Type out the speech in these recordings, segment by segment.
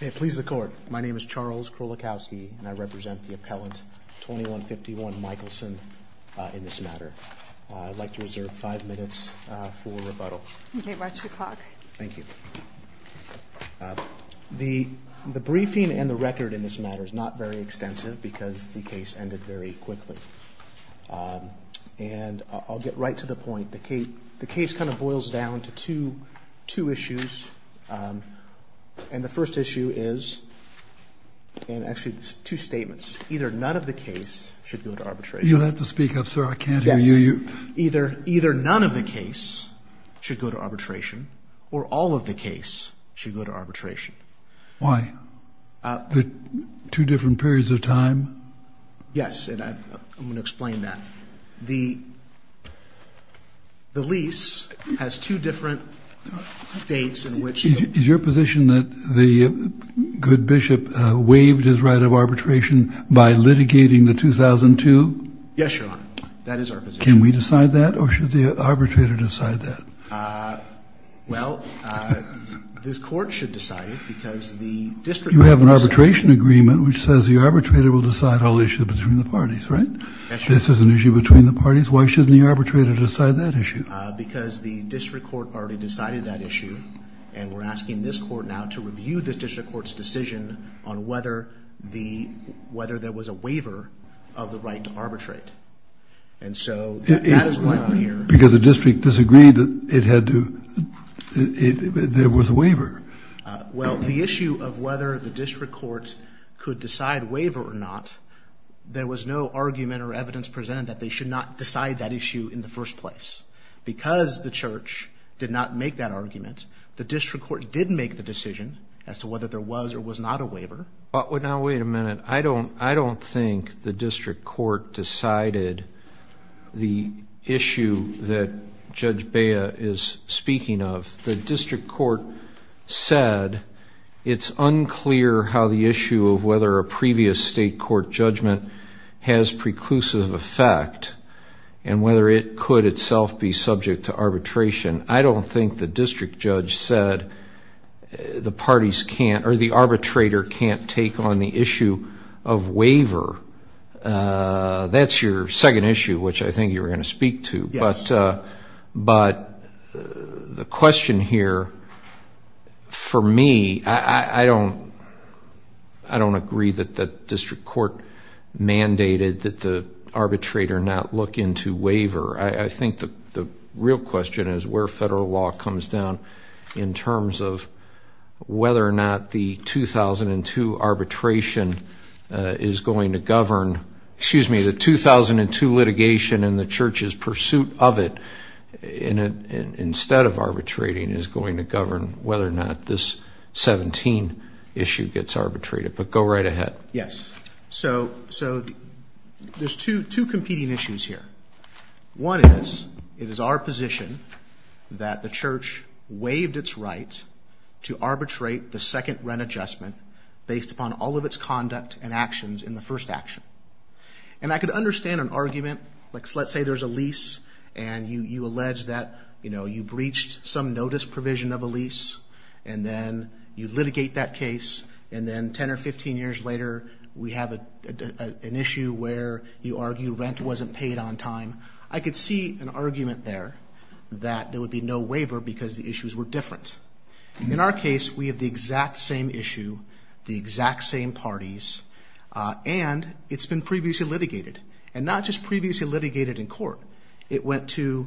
May it please the Court, my name is Charles Krolikowski, and I represent the appellant 2151 Michelson in this matter. I'd like to reserve five minutes for rebuttal. May it watch the clock. Thank you. The briefing and the record in this matter is not very extensive because the case ended very quickly. And I'll get right to the point. The case kind of boils down to two issues. And the first issue is, and actually it's two statements, either none of the case should go to arbitration. You'll have to speak up, sir. I can't hear you. Yes. Either none of the case should go to arbitration or all of the case should go to arbitration. Why? Two different periods of time? Yes. And I'm going to explain that. The lease has two different dates in which the Is your position that the good bishop waived his right of arbitration by litigating the 2002? Yes, Your Honor. That is our position. Can we decide that? Or should the arbitrator decide that? Well, this Court should decide it because the district You have an arbitration agreement which says the arbitrator will decide all issues between the parties, right? That's right. This is an issue between the parties. Why shouldn't the arbitrator decide that issue? Because the district court already decided that issue. And we're asking this court now to review this district court's decision on whether the whether there was a waiver of the right to arbitrate. And so that is why I'm here. Because the district disagreed that it had to it there was a waiver. Well, the issue of whether the district court could decide waiver or not, there was no argument or evidence presented that they should not decide that issue in the first place. Because the church did not make that argument, the district court did make the decision as to whether there was or was not a waiver. But now wait a minute. I don't I don't think the district court decided the issue that Judge Bea is speaking of. The district court said it's unclear how the issue of whether a previous state court judgment has preclusive effect and whether it could itself be subject to arbitration. I don't think the district judge said the parties can't or the arbitrator can't take on the issue of waiver. That's your second issue which I think you were going to speak to. But the question here, for me, I don't I don't agree that the district court mandated that the arbitrator not look into waiver. I think the real question is where federal law comes down in terms of whether or not the 2002 arbitration is going to govern excuse me the 2002 litigation and the church's pursuit of it instead of arbitrating is going to govern whether or not this 17 issue gets arbitrated. But go right ahead. Yes. So there's two competing issues here. One is it is our position that the church waived its right to arbitrate the second rent adjustment based upon all of its conduct and first action. And I could understand an argument like let's say there's a lease and you allege that you know you breached some notice provision of a lease and then you litigate that case and then 10 or 15 years later we have an issue where you argue rent wasn't paid on time. I could see an argument there that there would be no waiver because the issues were different. In our case we have the exact same issue, the exact same parties and it's been previously litigated and not just previously litigated in court. It went to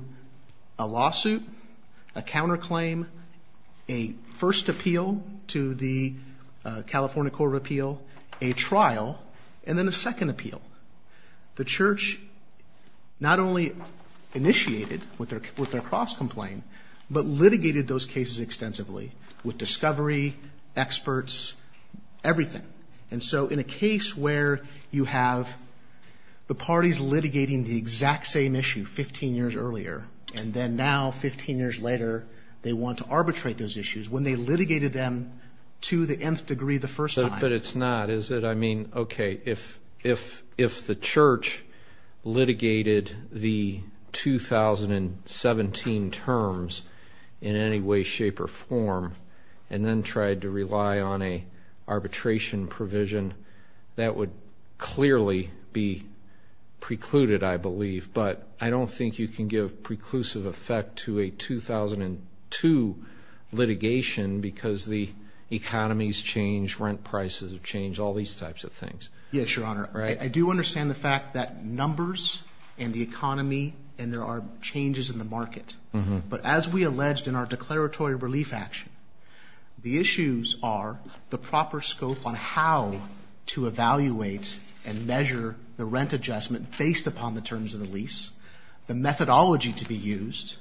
a lawsuit, a counter claim, a first appeal to the California Court of Appeal, a trial and then a second appeal. The church not only initiated with their cross complaint but litigated those cases extensively with discovery, experts, everything. And so in a case where you have the parties litigating the exact same issue 15 years earlier and then now 15 years later they want to arbitrate those issues when they litigated them to the nth degree the first time. But it's not, is it? I mean okay if the church litigated the 2017 terms in any way, shape or form and then tried to rely on an arbitration provision that would clearly be precluded I believe but I don't think you can give preclusive effect to a 2002 litigation because the economies change, rent prices have changed, all these types of things. Yes, your honor. I do understand the fact that numbers and the economy and there are changes in the market. But as we alleged in our declaratory relief action, the issues are the proper scope on how to evaluate and measure the rent adjustment based upon the terms of the lease, the methodology to be used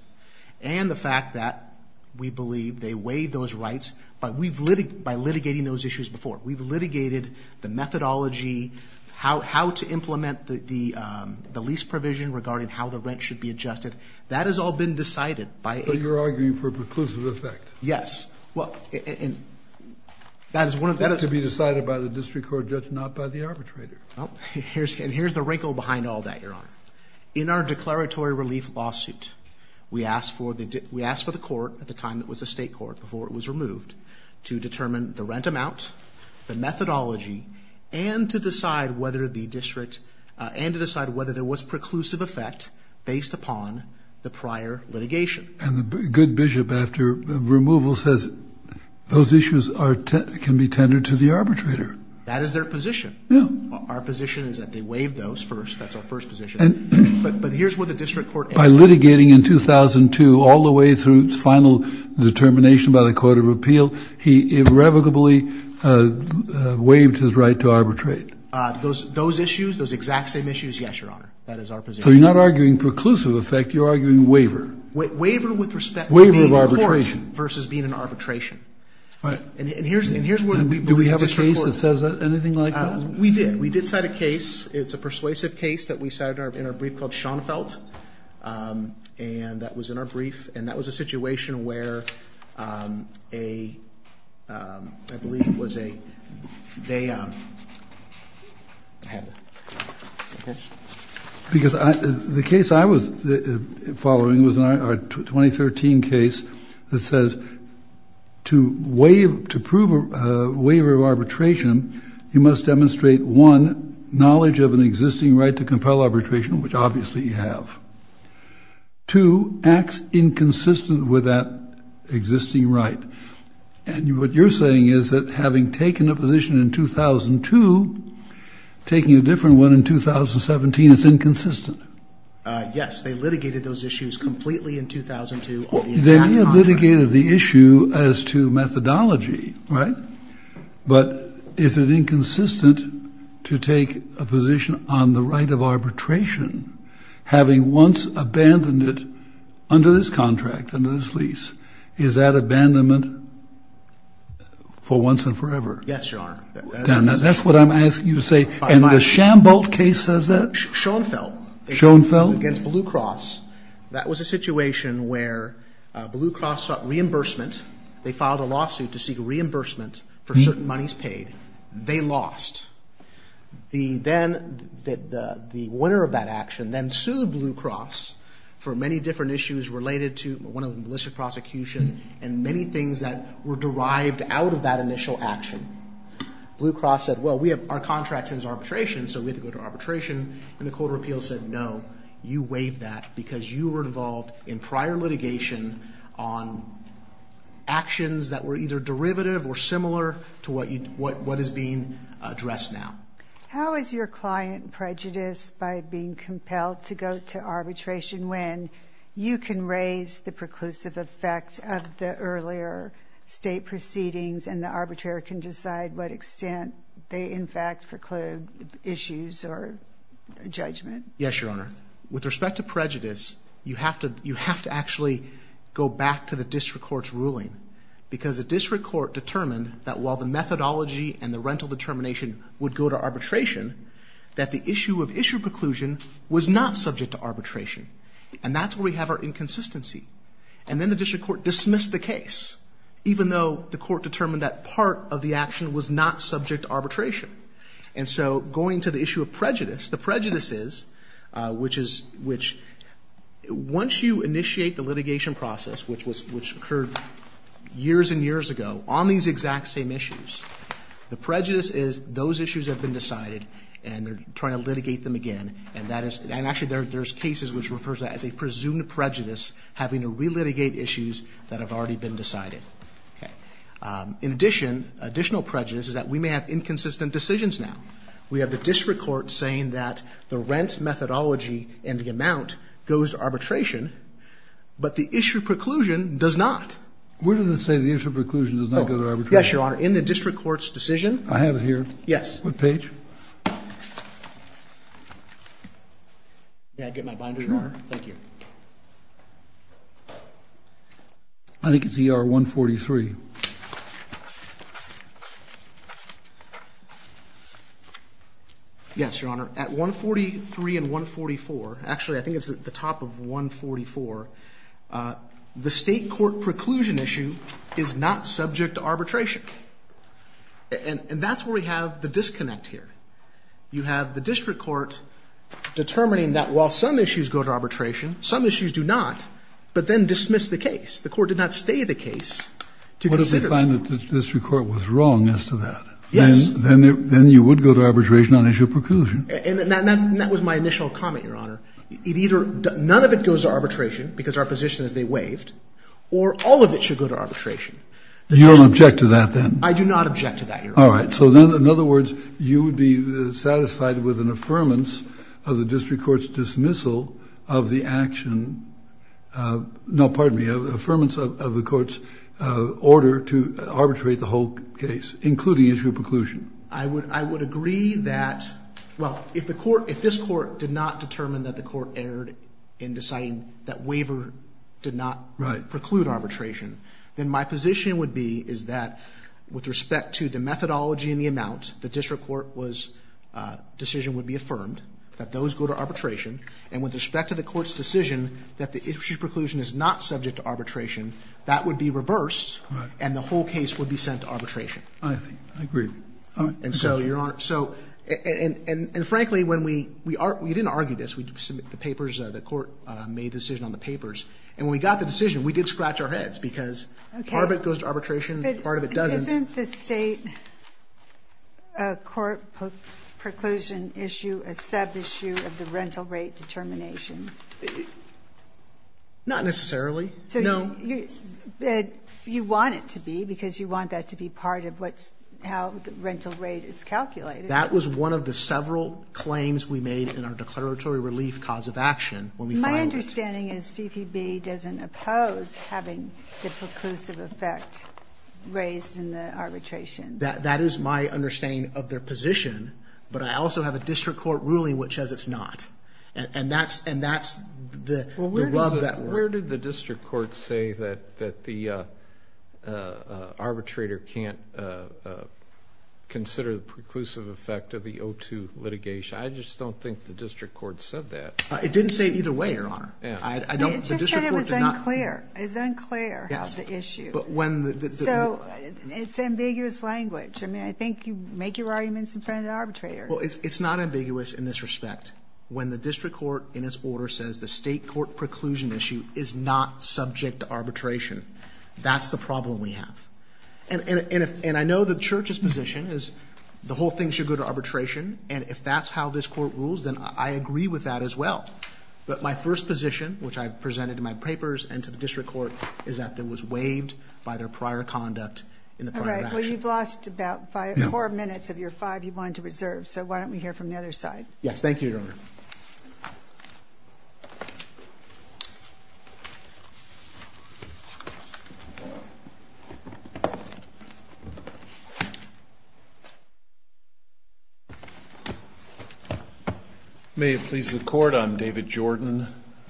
and the fact that we believe they weighed those rights by litigating those issues before. We've litigated the methodology, how to implement the lease provision regarding how the rent should be adjusted. That has all been decided by a... So you're arguing for preclusive effect? Yes. That is to be decided by the district court judge not by the arbitrator. And here's the wrinkle behind all that, your honor. In our declaratory relief lawsuit we asked for the court at the time it was a state court before it was removed to determine the rent amount, the methodology and to decide whether there was preclusive effect based upon the prior litigation. And the good bishop after removal says those issues can be tendered to the arbitrator. That is their position. Our position is that they waive those first, that's our first position. But here's where the district court... By litigating in 2002 all the way through its final determination by the court of appeal, he irrevocably waived his right to arbitrate. Those issues, those exact same issues, yes, your honor. That is our position. So you're not arguing preclusive effect, you're arguing waiver? Waiver with respect to being in court versus being in arbitration. And here's where the district court... Do we have a case that says anything like that? We did. We did cite a case. It's a persuasive case that we cited in our brief called Schoenfeldt. And that was in our brief. And that was a situation where a... I believe it was a... Because the case I was following was a 2013 case that says to prove a waiver of arbitration you must demonstrate, one, knowledge of an existing right to compel arbitration, which obviously you have. Two, acts inconsistent with that existing right. And what you're saying is that having taken a position in 2002, taking a different one in 2017, it's inconsistent. Yes, they litigated those issues completely in 2002. They may have litigated the issue as to methodology, right? But is it inconsistent to take a position on the right of arbitration, having once abandoned it under this contract, under this lease? Is that abandonment for once and forever? Yes, Your Honor. That's what I'm asking you to say. And the Schoenfeldt case says that? Schoenfeldt. Schoenfeldt? Against Blue Cross. That was a situation where Blue Cross sought reimbursement. They filed a lawsuit to seek reimbursement for certain monies paid. They lost. The winner of that action then sued Blue Cross for many different issues related to, one of them, illicit prosecution and many things that were derived out of that initial action. Blue Cross said, well, our contract says arbitration, so we have to go to arbitration. And the court of appeals said, no, you waived that because you were involved in prior litigation on actions that were either derivative or similar to what is being addressed now. How is your client prejudiced by being compelled to go to arbitration when you can raise the preclusive effect of the earlier state proceedings and the arbitrator can decide what extent they, in fact, preclude issues or judgment? Yes, Your Honor. With respect to prejudice, you have to actually go back to the district court's ruling because the district court determined that while the methodology and the rental determination would go to arbitration, that the issue of issue preclusion was not subject to arbitration. And that's where we have our inconsistency. And then the district court dismissed the case, even though the court determined that part of the action was not subject to arbitration. And so going to the issue of prejudice, the prejudice is, which is, which, once you initiate the litigation process, which was, which occurred years and years ago, on these exact same issues, the prejudice is those issues have been decided and they're trying to litigate them again. And that is, and actually there's cases which refers to that as a presumed prejudice, having to relitigate issues that have already been decided. Okay. In addition, additional prejudice is that we may have inconsistent decisions now. We have the district court saying that the rent methodology and the amount goes to arbitration, but the issue of preclusion does not. Where does it say the issue of preclusion does not go to arbitration? Yes, Your Honor. In the district court's decision. I have it here. Yes. On the page. May I get my binders, Your Honor? Thank you. I think it's ER 143. Yes, Your Honor. At 143 and 144, actually I think it's at the top of 144, the state court preclusion issue is not subject to arbitration. And that's where we have the disconnect here. You have the district court determining that while some issues go to arbitration, some issues do not, but then dismiss the case. The court did not stay the case to consider. What if they find that the district court was wrong as to that? Yes. Then you would go to arbitration on issue of preclusion. And that was my initial comment, Your Honor. It either, none of it goes to arbitration because our position is they waived, or all of it should go to arbitration. You don't object to that then? I do not object to that, Your Honor. All right. So then, in other words, you would be satisfied with an affirmance of the district court's dismissal of the action, no, pardon me, affirmance of the court's order to arbitrate the whole case, including issue of preclusion. I would agree that, well, if the court, if this court did not determine that the court erred in deciding that waiver did not preclude arbitration, then my position would be is that with respect to the methodology and the amount, the district court was, decision would be affirmed, that those go to arbitration, and with respect to the court's decision that the issue of preclusion is not subject to arbitration, that would be reversed, and the whole case would be sent to arbitration. I agree. And so, Your Honor, so, and frankly, when we, we didn't argue this, we submit the papers, the court made the decision on the papers, and when we got the decision, we did scratch our heads, because part of it goes to arbitration, part of it doesn't. Isn't the state court preclusion issue a sub-issue of the rental rate determination? Not necessarily. No. You want it to be, because you want that to be part of what's, how the rental rate is calculated. That was one of the several claims we made in our declaratory relief cause of action. My understanding is CPB doesn't oppose having the preclusive effect raised in the arbitration. That, that is my understanding of their position, but I also have a district court ruling which says it's not. And, and that's, and that's the, the rub that. Where did the district court say that, that the arbitrator can't consider the preclusive effect of the O2 litigation? I just don't think the district court said that. It didn't say it either way, your honor. I, I don't, the district court did not. It just said it was unclear. It was unclear, the issue. But when the, the. So, it's ambiguous language. I mean, I think you make your arguments in front of the arbitrator. Well, it's, it's not ambiguous in this respect. When the district court, in its order, says the state court preclusion issue is not subject to arbitration. That's the problem we have. And, and, and if, and I know the church's position is the whole thing should go to arbitration. And if that's how this court rules, then I agree with that as well. But my first position, which I've presented in my papers and to the district court, is that it was waived by their prior conduct in the prior action. All right, well you've lost about five, four minutes of your five you wanted to reserve, so why don't we hear from the other side? May it please the court, I'm David Jordan.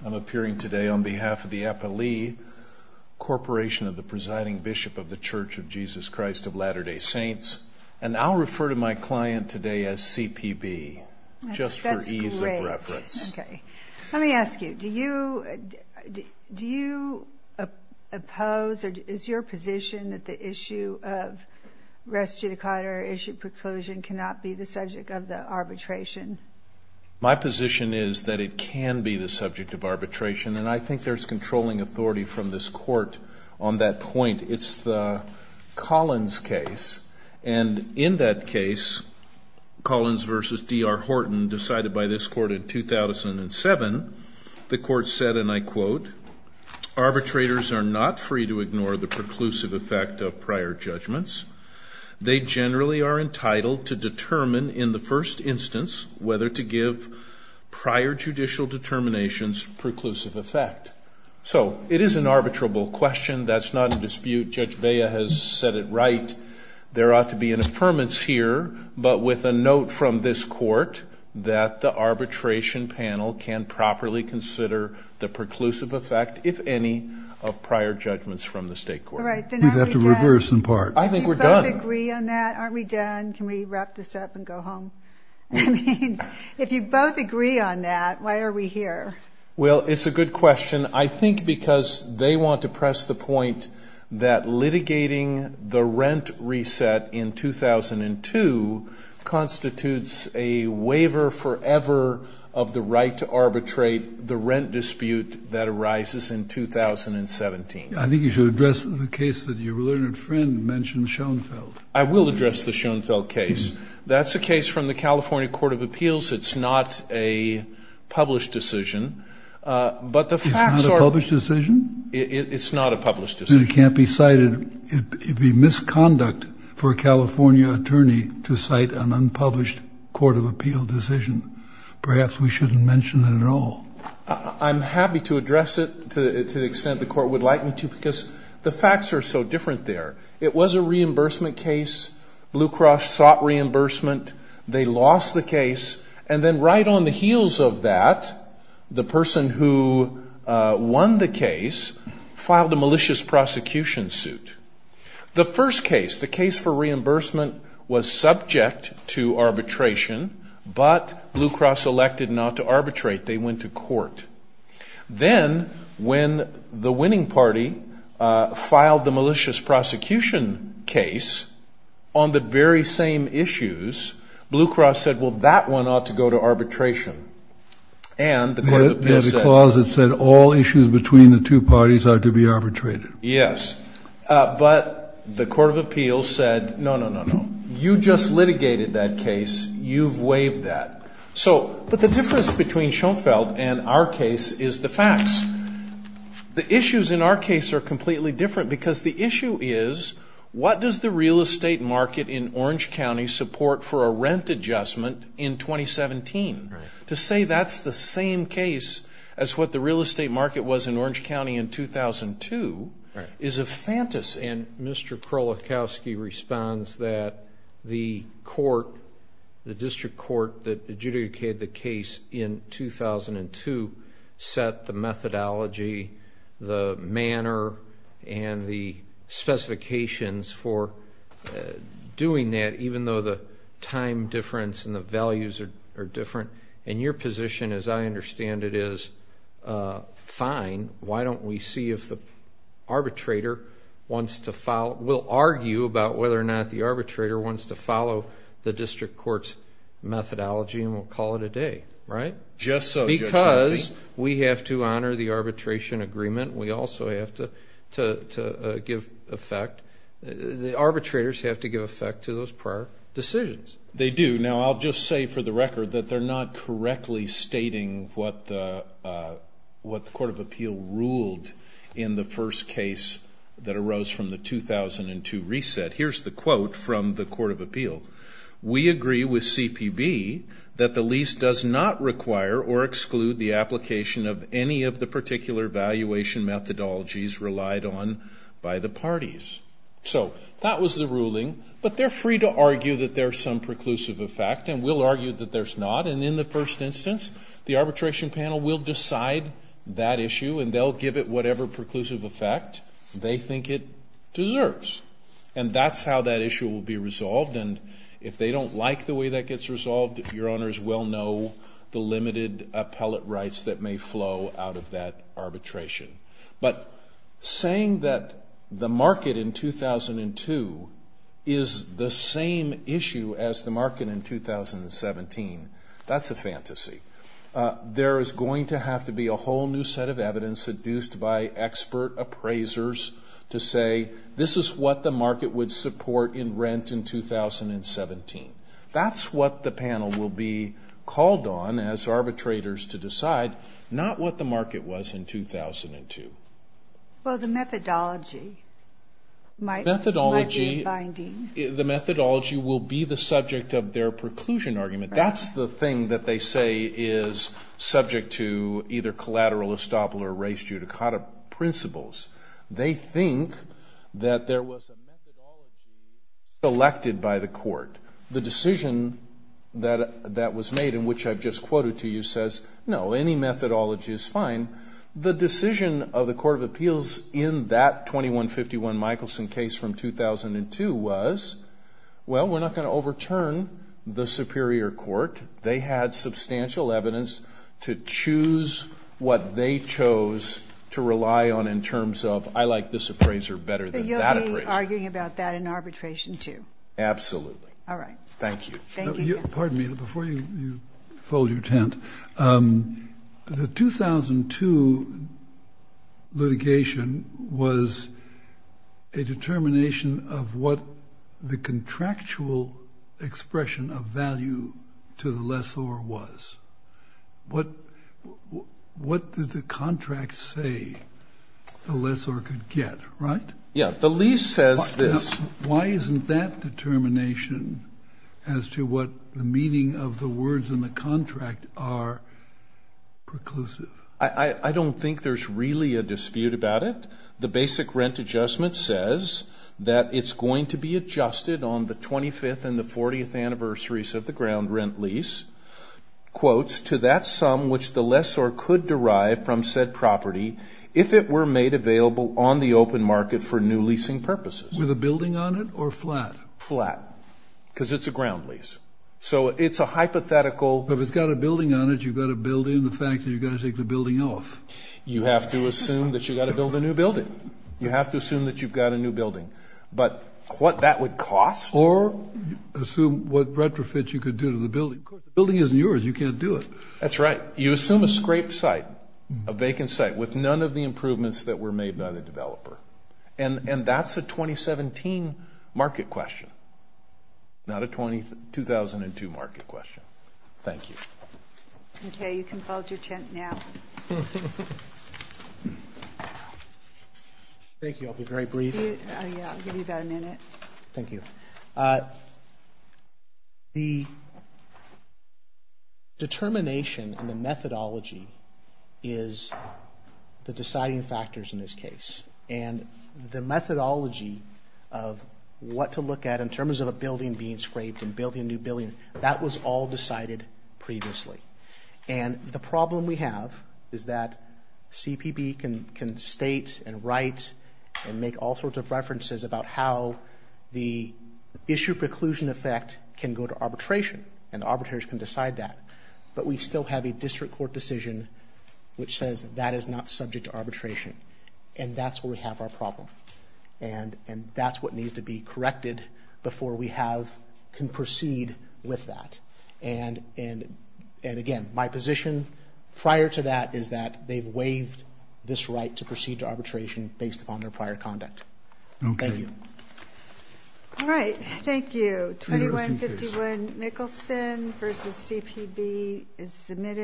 I'm appearing today on behalf of the Appalee Corporation of the Presiding Bishop of the Church of Jesus Christ of Latter-day Saints. And I'll refer to my client today as CPB, just for ease of reference. Okay, let me ask you, do you, do you oppose or is your position that the issue of res judicata or issue preclusion cannot be the subject of the arbitration? My position is that it can be the subject of arbitration. And I think there's controlling authority from this court on that point. It's the Collins case. And in that case, Collins versus D.R. Horton decided by this court in 2007, the court said, and I quote, Arbitrators are not free to ignore the preclusive effect of prior judgments. They generally are entitled to determine in the first instance whether to give prior judicial determinations preclusive effect. So it is an arbitrable question. That's not a dispute. Judge Vea has said it right. There ought to be an affirmance here. But with a note from this court that the arbitration panel can properly consider the preclusive effect, if any, of prior judgments from the state court. All right, then aren't we done? We'd have to reverse in part. I think we're done. Do you both agree on that? Aren't we done? Can we wrap this up and go home? I mean, if you both agree on that, why are we here? Well, it's a good question. I think because they want to press the point that litigating the rent reset in 2002 constitutes a waiver forever of the right to arbitrate the rent dispute that arises in 2017. I think you should address the case that your learned friend mentioned, Schoenfeld. I will address the Schoenfeld case. That's a case from the California Court of Appeals. It's not a published decision, but the facts are It's not a published decision? It's not a published decision. Then it can't be cited. It would be misconduct for a California attorney to cite an unpublished court of appeal decision. Perhaps we shouldn't mention it at all. I'm happy to address it to the extent the court would like me to, because the facts are so different there. It was a reimbursement case. Blue Cross sought reimbursement. They lost the case. And then right on the heels of that, the person who won the case filed a malicious prosecution suit. The first case, the case for reimbursement, was subject to arbitration, but Blue Cross elected not to arbitrate. They went to court. Then, when the winning party filed the malicious prosecution case on the very same issues, Blue Cross said, well, that one ought to go to arbitration. And the court of appeals said- There's a clause that said all issues between the two parties are to be arbitrated. Yes, but the court of appeals said, no, no, no, no. You just litigated that case. You've waived that. So, but the difference between Schoenfeld and our case is the facts. The issues in our case are completely different because the issue is, what does the real estate market in Orange County support for a rent adjustment in 2017? To say that's the same case as what the real estate market was in Orange County in 2002 is a phantasm. And Mr. Krolikowski responds that the court, the district court, that adjudicated the case in 2002 set the methodology, the manner, and the specifications for doing that, even though the time difference and the values are different. And your position, as I understand it, is fine. Why don't we see if the arbitrator wants to follow, we'll argue about whether or not the arbitrator wants to follow the district court's methodology and we'll call it a day, right? Just so, Judge Murphy. Because we have to honor the arbitration agreement. We also have to give effect. The arbitrators have to give effect to those prior decisions. They do. Now, I'll just say for the record that they're not correctly stating what the Court of Appeal ruled in the first case that arose from the 2002 reset. Here's the quote from the Court of Appeal. We agree with CPB that the lease does not require or exclude the application of any of the particular valuation methodologies relied on by the parties. So, that was the ruling. But they're free to argue that there's some preclusive effect. And we'll argue that there's not. And in the first instance, the arbitration panel will decide that issue and they'll give it whatever preclusive effect they think it deserves. And that's how that issue will be resolved. And if they don't like the way that gets resolved, your honors will know the limited appellate rights that may flow out of that arbitration. But saying that the market in 2002 is the same issue as the market in 2017, that's a fantasy. There is going to have to be a whole new set of evidence seduced by expert appraisers to say this is what the market would support in rent in 2017. That's what the panel will be called on as arbitrators to decide, not what the market was in 2002. Well, the methodology might be binding. The methodology will be the subject of their preclusion argument. That's the thing that they say is subject to either collateral estoppel or res judicata principles. They think that there was a methodology selected by the court. The decision that was made in which I've just quoted to you says, no, any methodology is fine. The decision of the Court of Appeals in that 2151 Michelson case from 2002 was, well, we're not going to overturn the superior court. They had substantial evidence to choose what they chose to rely on in terms of, I like this appraiser better than that appraiser. Arguing about that in arbitration, too. Absolutely. All right. Thank you. Thank you. Pardon me, before you fold your tent, the 2002 litigation was a determination of what the contractual expression of value to the lessor was. What did the contract say the lessor could get, right? Yeah. The lease says this. Why isn't that determination as to what the meaning of the words in the contract are preclusive? I don't think there's really a dispute about it. The basic rent adjustment says that it's going to be adjusted on the 25th and the 40th anniversaries of the ground rent lease, quotes, to that sum which the lessor could derive from said property if it were made available on the open market for new leasing purposes. With a building on it or flat? Flat. Because it's a ground lease. So it's a hypothetical. If it's got a building on it, you've got to build in the fact that you've got to take the building off. You have to assume that you've got to build a new building. You have to assume that you've got a new building. But what that would cost. Or assume what retrofits you could do to the building. Of course, the building isn't yours. You can't do it. That's right. You assume a scraped site. A vacant site with none of the improvements that were made by the developer. And that's a 2017 market question. Not a 2002 market question. Thank you. Okay, you can fold your tent now. Thank you. I'll be very brief. Yeah, I'll give you about a minute. Thank you. The determination and the methodology is the deciding factors in this case. And the methodology of what to look at in terms of a building being scraped and building a new building, that was all decided previously. And the problem we have is that CPP can state and write and make all sorts of references about how the issue preclusion effect can go to arbitration. And the arbitrators can decide that. But we still have a district court decision which says that is not subject to arbitration. And that's where we have our problem. And that's what needs to be corrected before we can proceed with that. And again, my position prior to that is that they've waived this right to proceed to arbitration based upon their prior conduct. Thank you. All right, thank you. 2151 Nicholson versus CPB is submitted.